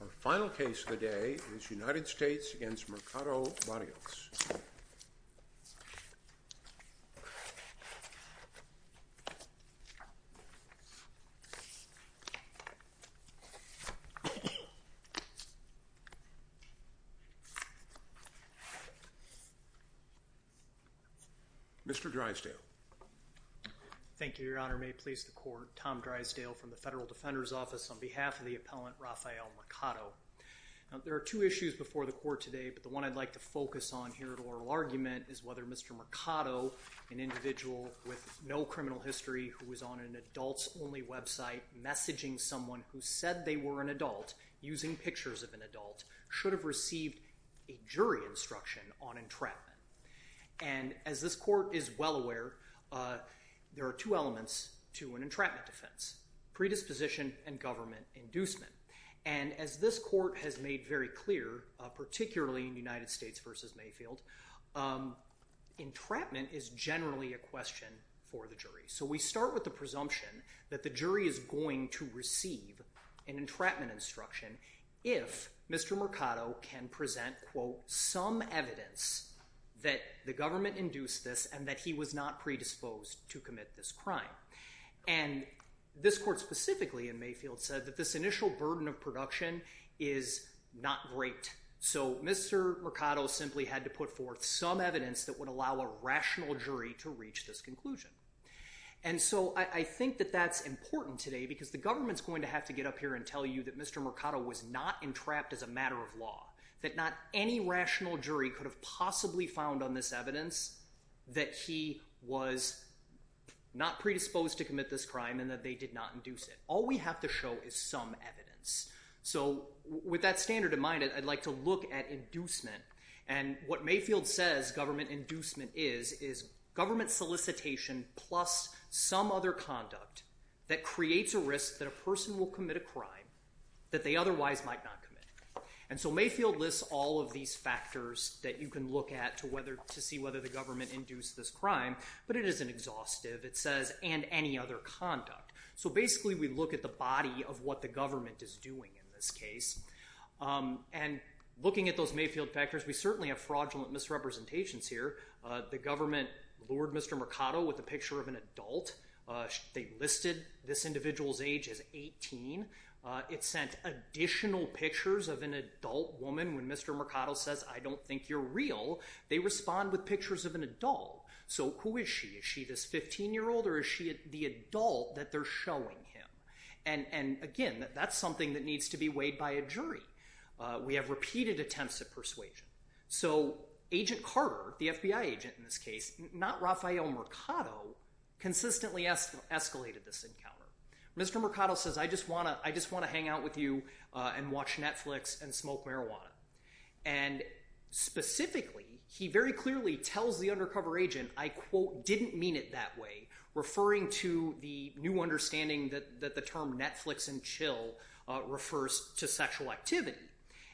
Our final case of the day is United States v. Mercado Berrios. Mr. Drysdale. Thank you, Your Honor. May it please the Court, Tom Drysdale from the Federal Defender's Office on behalf of the appellant, Rafael Mercado. There are two issues before the Court today, but the one I'd like to focus on here at oral argument is whether Mr. Mercado, an individual with no criminal history who was on an adults-only website messaging someone who said they were an adult, using pictures of an adult, should have received a jury instruction on entrapment. And as this Court is well aware, there are two elements to an entrapment defense, predisposition and government inducement. And as this Court has made very clear, particularly in United States v. Mayfield, entrapment is generally a question for the jury. So we start with the presumption that the jury is going to receive an entrapment instruction if Mr. Mercado can present, quote, some evidence that the government induced this and that he was not predisposed to commit this crime. And this Court specifically in Mayfield said that this initial burden of production is not great. So Mr. Mercado simply had to put forth some evidence that would allow a rational jury to reach this conclusion. And so I think that that's important today because the government's going to have to get up here and tell you that Mr. Mercado was not entrapped as a matter of law, that not any rational jury could have possibly found on this evidence that he was not predisposed to commit this crime and that they did not induce it. All we have to show is some evidence. So with that standard in mind, I'd like to look at inducement. And what Mayfield says government inducement is is government solicitation plus some other conduct that creates a risk that a person will commit a crime that they otherwise might not commit. And so Mayfield lists all of these factors that you can look at to see whether the government induced this crime, but it isn't exhaustive. It says, and any other conduct. So basically we look at the body of what the government is doing in this case. And looking at those Mayfield factors, we certainly have fraudulent misrepresentations here. The government lured Mr. Mercado with a picture of an adult. They listed this individual's age as 18. It sent additional pictures of an adult woman when Mr. Mercado says, I don't think you're real. They respond with pictures of an adult. So who is she? Is she this 15-year-old or is she the adult that they're showing him? And again, that's something that needs to be weighed by a jury. We have repeated attempts at persuasion. So Agent Carter, the FBI agent in this case, not Rafael Mercado, consistently escalated this encounter. Mr. Mercado says, I just want to hang out with you and watch Netflix and smoke marijuana. And specifically, he very clearly tells the undercover agent, I quote, didn't mean it that way, referring to the new understanding that the term Netflix and chill refers to sexual activity.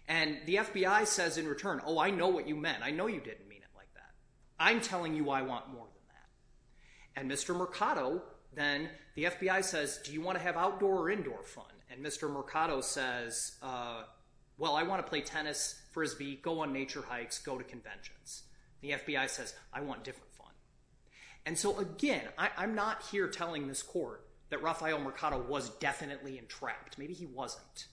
And the FBI says in return, oh, I know what you meant. I know you didn't mean it like that. I'm telling you I want more than that. And Mr. Mercado then, the FBI says, do you want to have outdoor or indoor fun? And Mr. Mercado says, well, I want to play tennis, frisbee, go on nature hikes, go to conventions. The FBI says, I want different fun. And so, again, I'm not here telling this court that Rafael Mercado was definitely entrapped. Maybe he wasn't.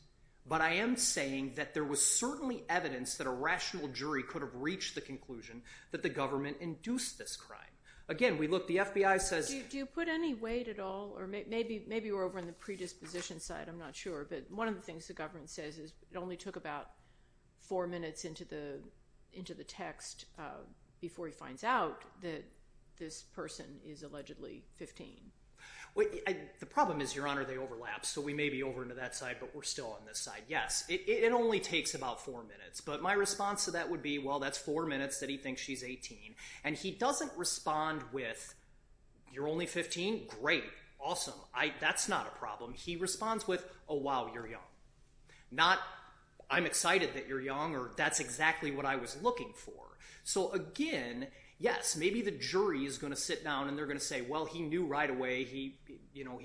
But I am saying that there was certainly evidence that a rational jury could have reached the conclusion that the government induced this crime. Again, we looked. The FBI says. Do you put any weight at all, or maybe we're over on the predisposition side. I'm not sure. But one of the things the government says is it only took about four minutes into the text before he finds out that this person is allegedly 15. The problem is, Your Honor, they overlap. So we may be over into that side, but we're still on this side. Yes, it only takes about four minutes. But my response to that would be, well, that's four minutes that he thinks she's 18. And he doesn't respond with, you're only 15? Great. Awesome. That's not a problem. He responds with, oh, wow, you're young. Not, I'm excited that you're young, or that's exactly what I was looking for. So, again, yes, maybe the jury is going to sit down and they're going to say, well, he knew right away he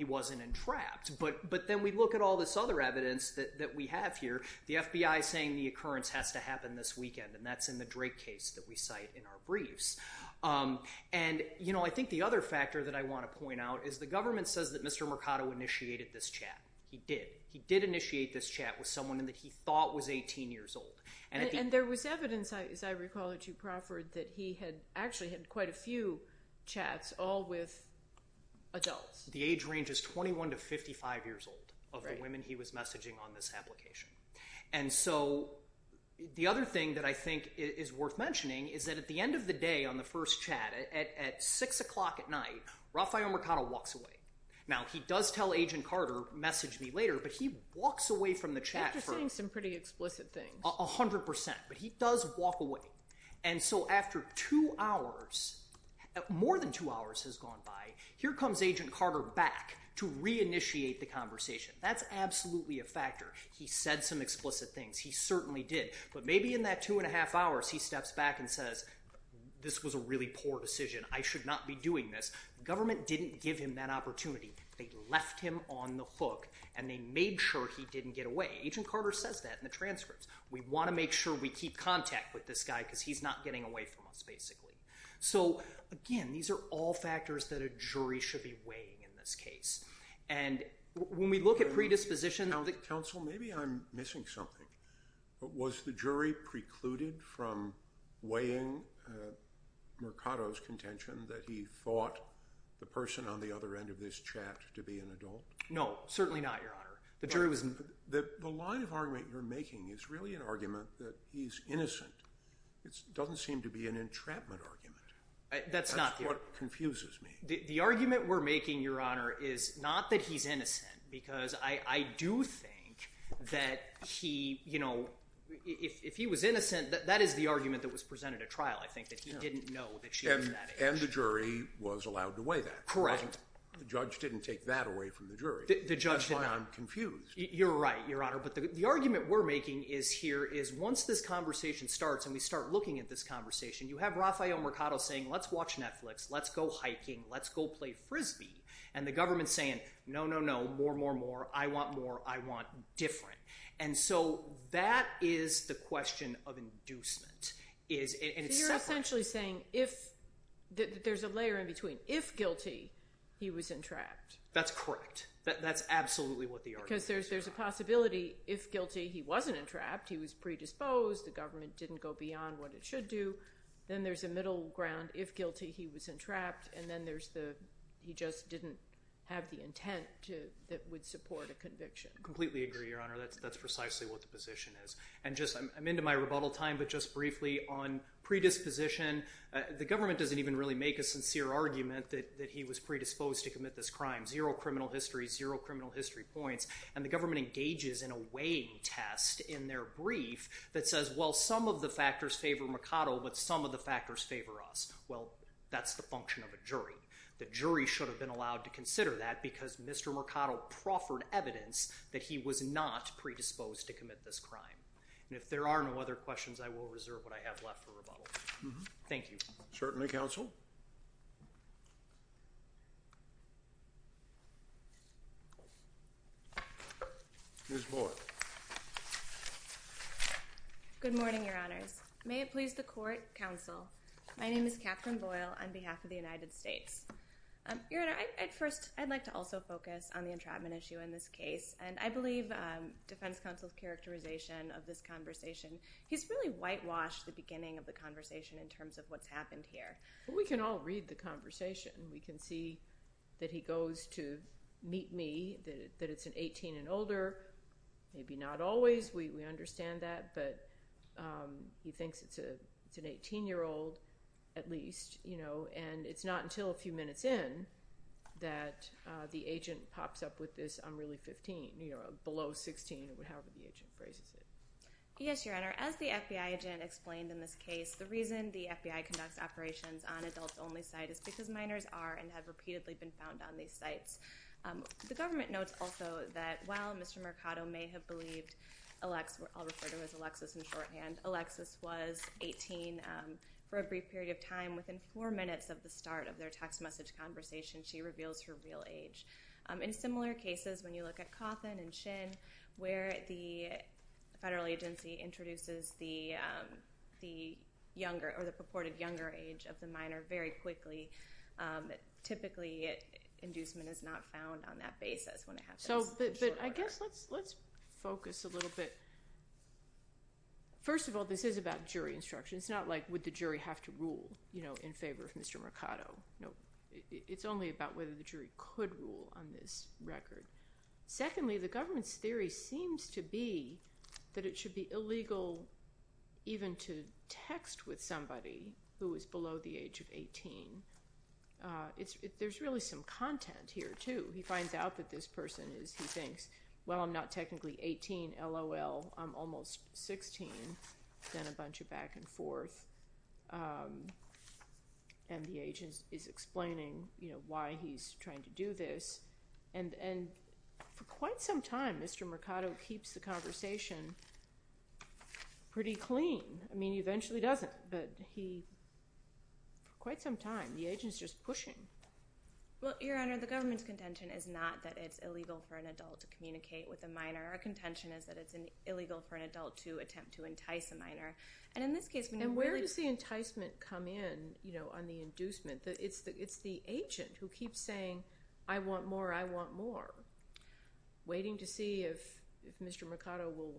wasn't entrapped. But then we look at all this other evidence that we have here. The FBI is saying the occurrence has to happen this weekend, and that's in the Drake case that we cite in our briefs. And, you know, I think the other factor that I want to point out is the government says that Mr. Mercado initiated this chat. He did. He did initiate this chat with someone that he thought was 18 years old. And there was evidence, as I recall it to you, Crawford, that he had actually had quite a few chats all with adults. The age range is 21 to 55 years old of the women he was messaging on this application. And so the other thing that I think is worth mentioning is that at the end of the day on the first chat, at 6 o'clock at night, Rafael Mercado walks away. Now, he does tell Agent Carter, message me later, but he walks away from the chat. You're saying some pretty explicit things. A hundred percent. But he does walk away. And so after two hours, more than two hours has gone by, here comes Agent Carter back to reinitiate the conversation. That's absolutely a factor. He said some explicit things. He certainly did. But maybe in that two and a half hours, he steps back and says, this was a really poor decision. I should not be doing this. The government didn't give him that opportunity. They left him on the hook, and they made sure he didn't get away. Agent Carter says that in the transcripts. We want to make sure we keep contact with this guy because he's not getting away from us, basically. So, again, these are all factors that a jury should be weighing in this case. And when we look at predisposition. Counsel, maybe I'm missing something. Was the jury precluded from weighing Mercado's contention that he thought the person on the other end of this chat to be an adult? No, certainly not, Your Honor. The line of argument you're making is really an argument that he's innocent. It doesn't seem to be an entrapment argument. That's not true. That's what confuses me. The argument we're making, Your Honor, is not that he's innocent because I do think that he, you know, if he was innocent, that is the argument that was presented at trial, I think, that he didn't know that she was that age. And the jury was allowed to weigh that. Correct. The judge didn't take that away from the jury. The judge didn't. That's why I'm confused. You're right, Your Honor. But the argument we're making here is once this conversation starts and we start looking at this conversation, you have Rafael Mercado saying, Let's watch Netflix. Let's go hiking. Let's go play Frisbee. And the government's saying, No, no, no, more, more, more. I want more. I want different. And so that is the question of inducement. You're essentially saying there's a layer in between. If guilty, he was entrapped. That's correct. That's absolutely what the argument is. Because there's a possibility if guilty, he wasn't entrapped. He was predisposed. The government didn't go beyond what it should do. Then there's a middle ground. If guilty, he wasn't trapped. And then he just didn't have the intent that would support a conviction. I completely agree, Your Honor. That's precisely what the position is. I'm into my rebuttal time, but just briefly on predisposition, the government doesn't even really make a sincere argument that he was predisposed to commit this crime. Zero criminal history, zero criminal history points. And the government engages in a weighing test in their brief that says, well, some of the factors favor Mercado, but some of the factors favor us. Well, that's the function of a jury. The jury should have been allowed to consider that because Mr. Mercado proffered evidence that he was not predisposed to commit this crime. And if there are no other questions, I will reserve what I have left for rebuttal. Thank you. Certainly, counsel. Ms. Boyle. Good morning, Your Honors. May it please the court, counsel. My name is Catherine Boyle on behalf of the United States. Your Honor, at first, I'd like to also focus on the entrapment issue in this case. And I believe defense counsel's characterization of this conversation, he's really whitewashed the beginning of the conversation in terms of what's happened here. Well, we can all read the conversation. We can see that he goes to meet me, that it's an 18 and older. Maybe not always. We understand that. But he thinks it's an 18-year-old at least, you know. And it's not until a few minutes in that the agent pops up with this, I'm really 15, you know, below 16, however the agent phrases it. Yes, Your Honor. As the FBI agent explained in this case, the reason the FBI conducts operations on adult-only sites is because minors are and have repeatedly been found on these sites. The government notes also that while Mr. Mercado may have believed, I'll refer to him as Alexis in shorthand, Alexis was 18 for a brief period of time. Within four minutes of the start of their text message conversation, she reveals her real age. In similar cases, when you look at Cawthon and Shin, where the federal agency introduces the younger or the purported younger age of the minor very quickly, typically inducement is not found on that basis when it happens in short order. But I guess let's focus a little bit. First of all, this is about jury instruction. It's not like would the jury have to rule in favor of Mr. Mercado. It's only about whether the jury could rule on this record. Secondly, the government's theory seems to be that it should be illegal even to text with somebody who is below the age of 18. There's really some content here, too. He finds out that this person is, he thinks, well, I'm not technically 18, LOL, I'm almost 16. Then a bunch of back and forth. And the agent is explaining why he's trying to do this. And for quite some time, Mr. Mercado keeps the conversation pretty clean. I mean, he eventually doesn't, but he, for quite some time, the agent's just pushing. Well, Your Honor, the government's contention is not that it's illegal for an adult to communicate with a minor. Our contention is that it's illegal for an adult to attempt to entice a minor. And in this case, when you really— And where does the enticement come in on the inducement? It's the agent who keeps saying, I want more, I want more, waiting to see if Mr. Mercado will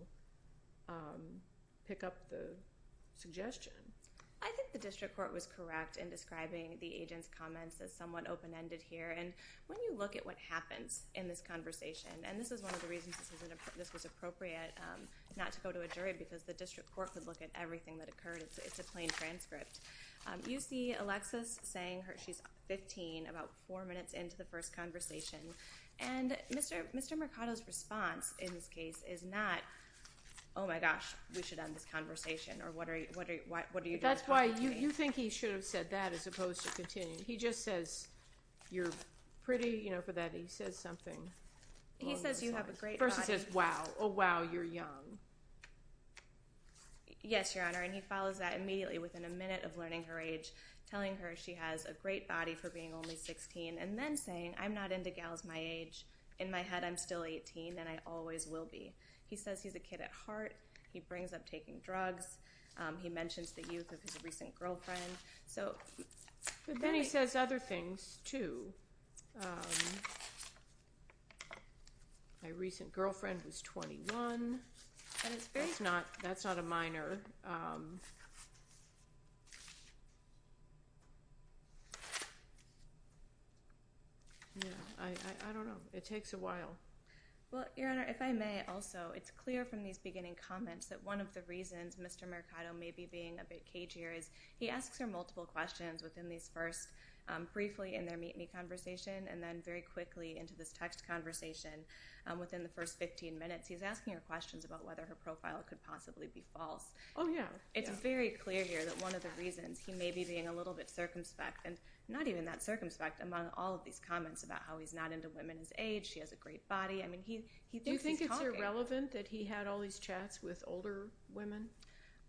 pick up the suggestion. I think the district court was correct in describing the agent's comments as somewhat open-ended here. And when you look at what happens in this conversation, and this is one of the reasons this was appropriate not to go to a jury because the district court could look at everything that occurred. It's a plain transcript. You see Alexis saying she's 15, about four minutes into the first conversation, and Mr. Mercado's response in this case is not, oh, my gosh, we should end this conversation, or what are you going to talk to me? That's why you think he should have said that as opposed to continuing. He just says, you're pretty, you know, for that. He says something along those lines. He says, you have a great body. First he says, wow, oh, wow, you're young. Yes, Your Honor, and he follows that immediately. Within a minute of learning her age, telling her she has a great body for being only 16, and then saying, I'm not into gals my age. In my head I'm still 18, and I always will be. He says he's a kid at heart. He brings up taking drugs. He mentions the youth of his recent girlfriend. Then he says other things too. My recent girlfriend was 21. That's not a minor. I don't know. It takes a while. Well, Your Honor, if I may also, it's clear from these beginning comments that one of the reasons Mr. Mercado may be being a bit cagey is he asks her multiple questions within these first briefly in their meet-me conversation and then very quickly into this text conversation within the first 15 minutes. He's asking her questions about whether her profile could possibly be false. Oh, yeah. It's very clear here that one of the reasons he may be being a little bit circumspect, and not even that circumspect among all of these comments about how he's not into women his age, she has a great body. I mean, he thinks he's talking. Do you think it's irrelevant that he had all these chats with older women?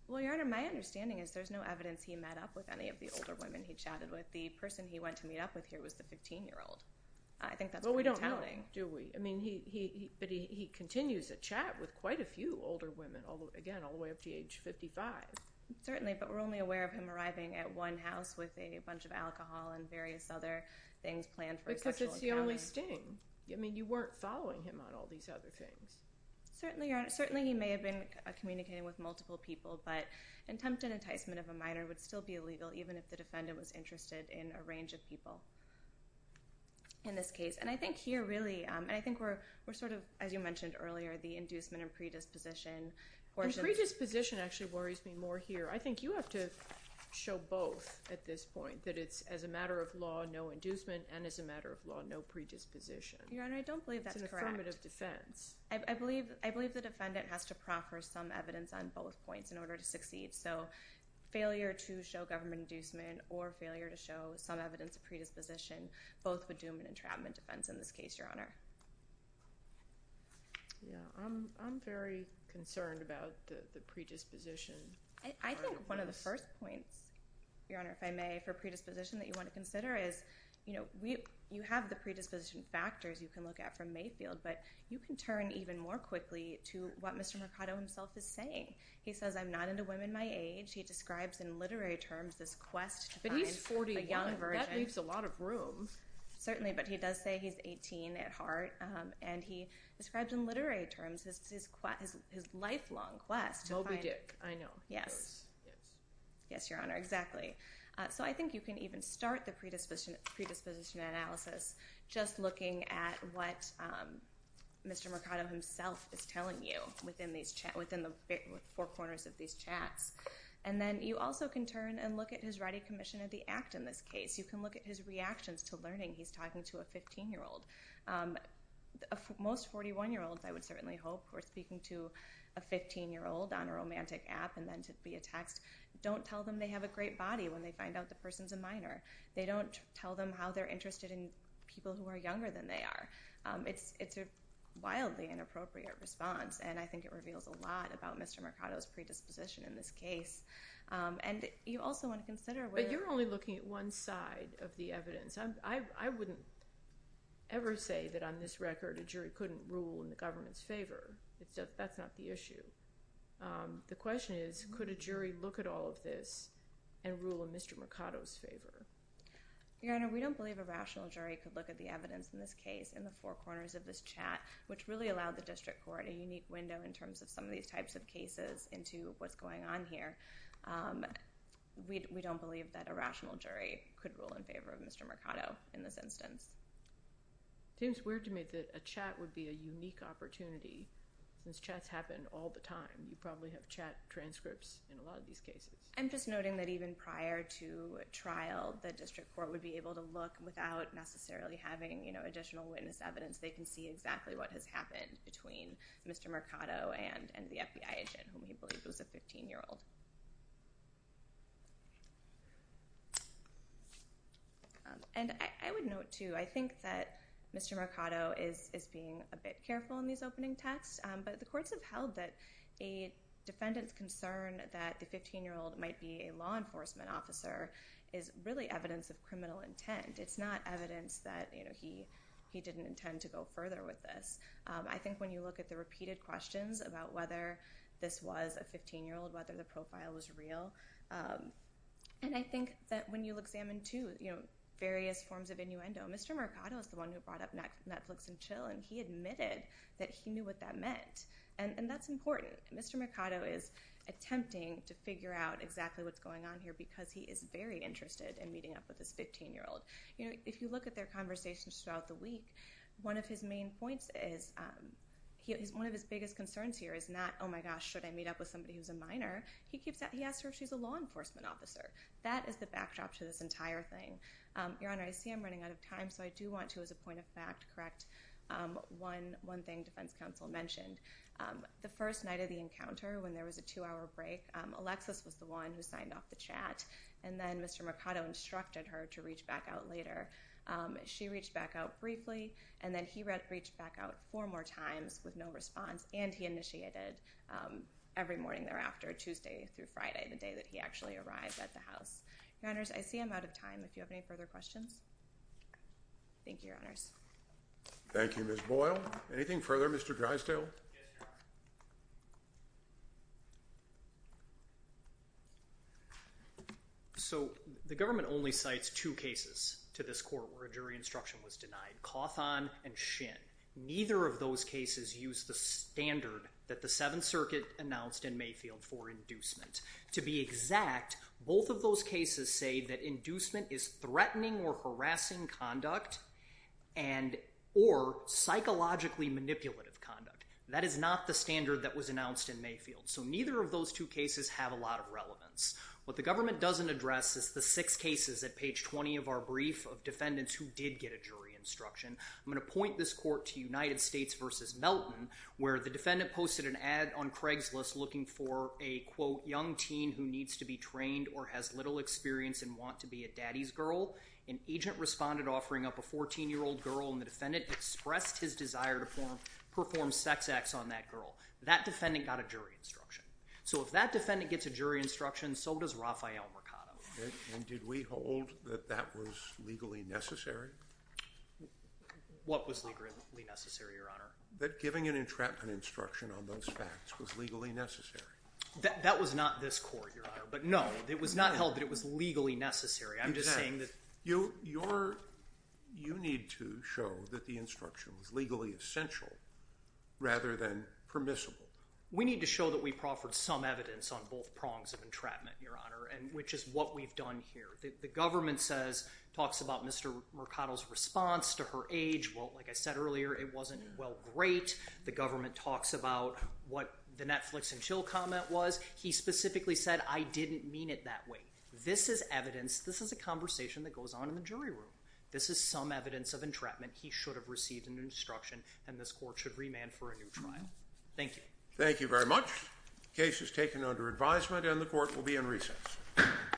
Well, Your Honor, my understanding is there's no evidence he met up with any of the older women he chatted with. The person he went to meet up with here was the 15-year-old. I think that's pretty telling. But we don't know, do we? I mean, but he continues to chat with quite a few older women, again, all the way up to age 55. Certainly, but we're only aware of him arriving at one house with a bunch of alcohol and various other things planned for his sexual encounter. Because it's the only sting. I mean, you weren't following him on all these other things. Certainly, Your Honor. Certainly he may have been communicating with multiple people, but an attempted enticement of a minor would still be illegal even if the defendant was interested in a range of people in this case. And I think here, really, and I think we're sort of, as you mentioned earlier, the inducement and predisposition portions. The predisposition actually worries me more here. I think you have to show both at this point, that it's as a matter of law no inducement and as a matter of law no predisposition. Your Honor, I don't believe that's correct. It's an affirmative defense. I believe the defendant has to proffer some evidence on both points in order to succeed. So failure to show government inducement or failure to show some evidence of predisposition, both with doom and entrapment defense in this case, Your Honor. I'm very concerned about the predisposition part of this. I think one of the first points, Your Honor, if I may, for predisposition that you want to consider is you have the predisposition factors you can look at from Mayfield, but you can turn even more quickly to what Mr. Mercado himself is saying. He says, I'm not into women my age. He describes in literary terms this quest to find a young virgin. He leaves a lot of room. Certainly, but he does say he's 18 at heart, and he describes in literary terms his lifelong quest to find. Moby Dick, I know. Yes. Yes, Your Honor, exactly. So I think you can even start the predisposition analysis just looking at what Mr. Mercado himself is telling you within the four corners of these chats. And then you also can turn and look at his writing commission of the act in this case. You can look at his reactions to learning he's talking to a 15-year-old. Most 41-year-olds, I would certainly hope, who are speaking to a 15-year-old on a romantic app and then to be a text, don't tell them they have a great body when they find out the person's a minor. They don't tell them how they're interested in people who are younger than they are. It's a wildly inappropriate response, and I think it reveals a lot about Mr. Mercado's predisposition in this case. And you also want to consider whether you're only looking at one side of the evidence. I wouldn't ever say that on this record a jury couldn't rule in the government's favor. That's not the issue. The question is, could a jury look at all of this and rule in Mr. Mercado's favor? Your Honor, we don't believe a rational jury could look at the evidence in this case in the four corners of this chat, which really allowed the district court a unique window in terms of some of these types of cases into what's going on here. We don't believe that a rational jury could rule in favor of Mr. Mercado in this instance. It seems weird to me that a chat would be a unique opportunity. Since chats happen all the time, you probably have chat transcripts in a lot of these cases. I'm just noting that even prior to trial, the district court would be able to look without necessarily having additional witness evidence. They can see exactly what has happened between Mr. Mercado and the FBI agent, whom he believed was a 15-year-old. I would note, too, I think that Mr. Mercado is being a bit careful in these opening texts, but the courts have held that a defendant's concern that the 15-year-old might be a law enforcement officer is really evidence of criminal intent. It's not evidence that he didn't intend to go further with this. I think when you look at the repeated questions about whether this was a 15-year-old, whether the profile was real, and I think that when you examine, too, various forms of innuendo, Mr. Mercado is the one who brought up Netflix and chill, and he admitted that he knew what that meant, and that's important. Mr. Mercado is attempting to figure out exactly what's going on here because he is very interested in meeting up with this 15-year-old. If you look at their conversations throughout the week, one of his main points is, one of his biggest concerns here is not, oh, my gosh, should I meet up with somebody who's a minor? He asks her if she's a law enforcement officer. That is the backdrop to this entire thing. Your Honor, I see I'm running out of time, so I do want to, as a point of fact, correct one thing defense counsel mentioned. The first night of the encounter, when there was a two-hour break, Alexis was the one who signed off the chat, and then Mr. Mercado instructed her to reach back out later. She reached back out briefly, and then he reached back out four more times with no response, and he initiated every morning thereafter, Tuesday through Friday, the day that he actually arrived at the house. Your Honors, I see I'm out of time. If you have any further questions? Thank you, Your Honors. Thank you, Ms. Boyle. Anything further, Mr. Drysdale? Yes, Your Honor. So the government only cites two cases to this court where a jury instruction was denied, Cawthon and Shin. Neither of those cases use the standard that the Seventh Circuit announced in Mayfield for inducement. To be exact, both of those cases say that inducement is threatening or harassing conduct or psychologically manipulative conduct. That is not the standard that was announced in Mayfield. So neither of those two cases have a lot of relevance. What the government doesn't address is the six cases at page 20 of our brief of defendants who did get a jury instruction. I'm going to point this court to United States v. Melton, where the defendant posted an ad on Craigslist looking for a, quote, young teen who needs to be trained or has little experience and wants to be a daddy's girl. An agent responded offering up a 14-year-old girl, and the defendant expressed his desire to perform sex acts on that girl. That defendant got a jury instruction. So if that defendant gets a jury instruction, so does Rafael Mercado. And did we hold that that was legally necessary? What was legally necessary, Your Honor? That giving an entrapment instruction on those facts was legally necessary. That was not this court, Your Honor. But no, it was not held that it was legally necessary. You need to show that the instruction was legally essential rather than permissible. We need to show that we proffered some evidence on both prongs of entrapment, Your Honor, which is what we've done here. The government talks about Mr. Mercado's response to her age. Well, like I said earlier, it wasn't, well, great. The government talks about what the Netflix and chill comment was. He specifically said, I didn't mean it that way. This is evidence. This is a conversation that goes on in the jury room. This is some evidence of entrapment. He should have received an instruction, and this court should remand for a new trial. Thank you. Thank you very much. The case is taken under advisement, and the court will be in recess.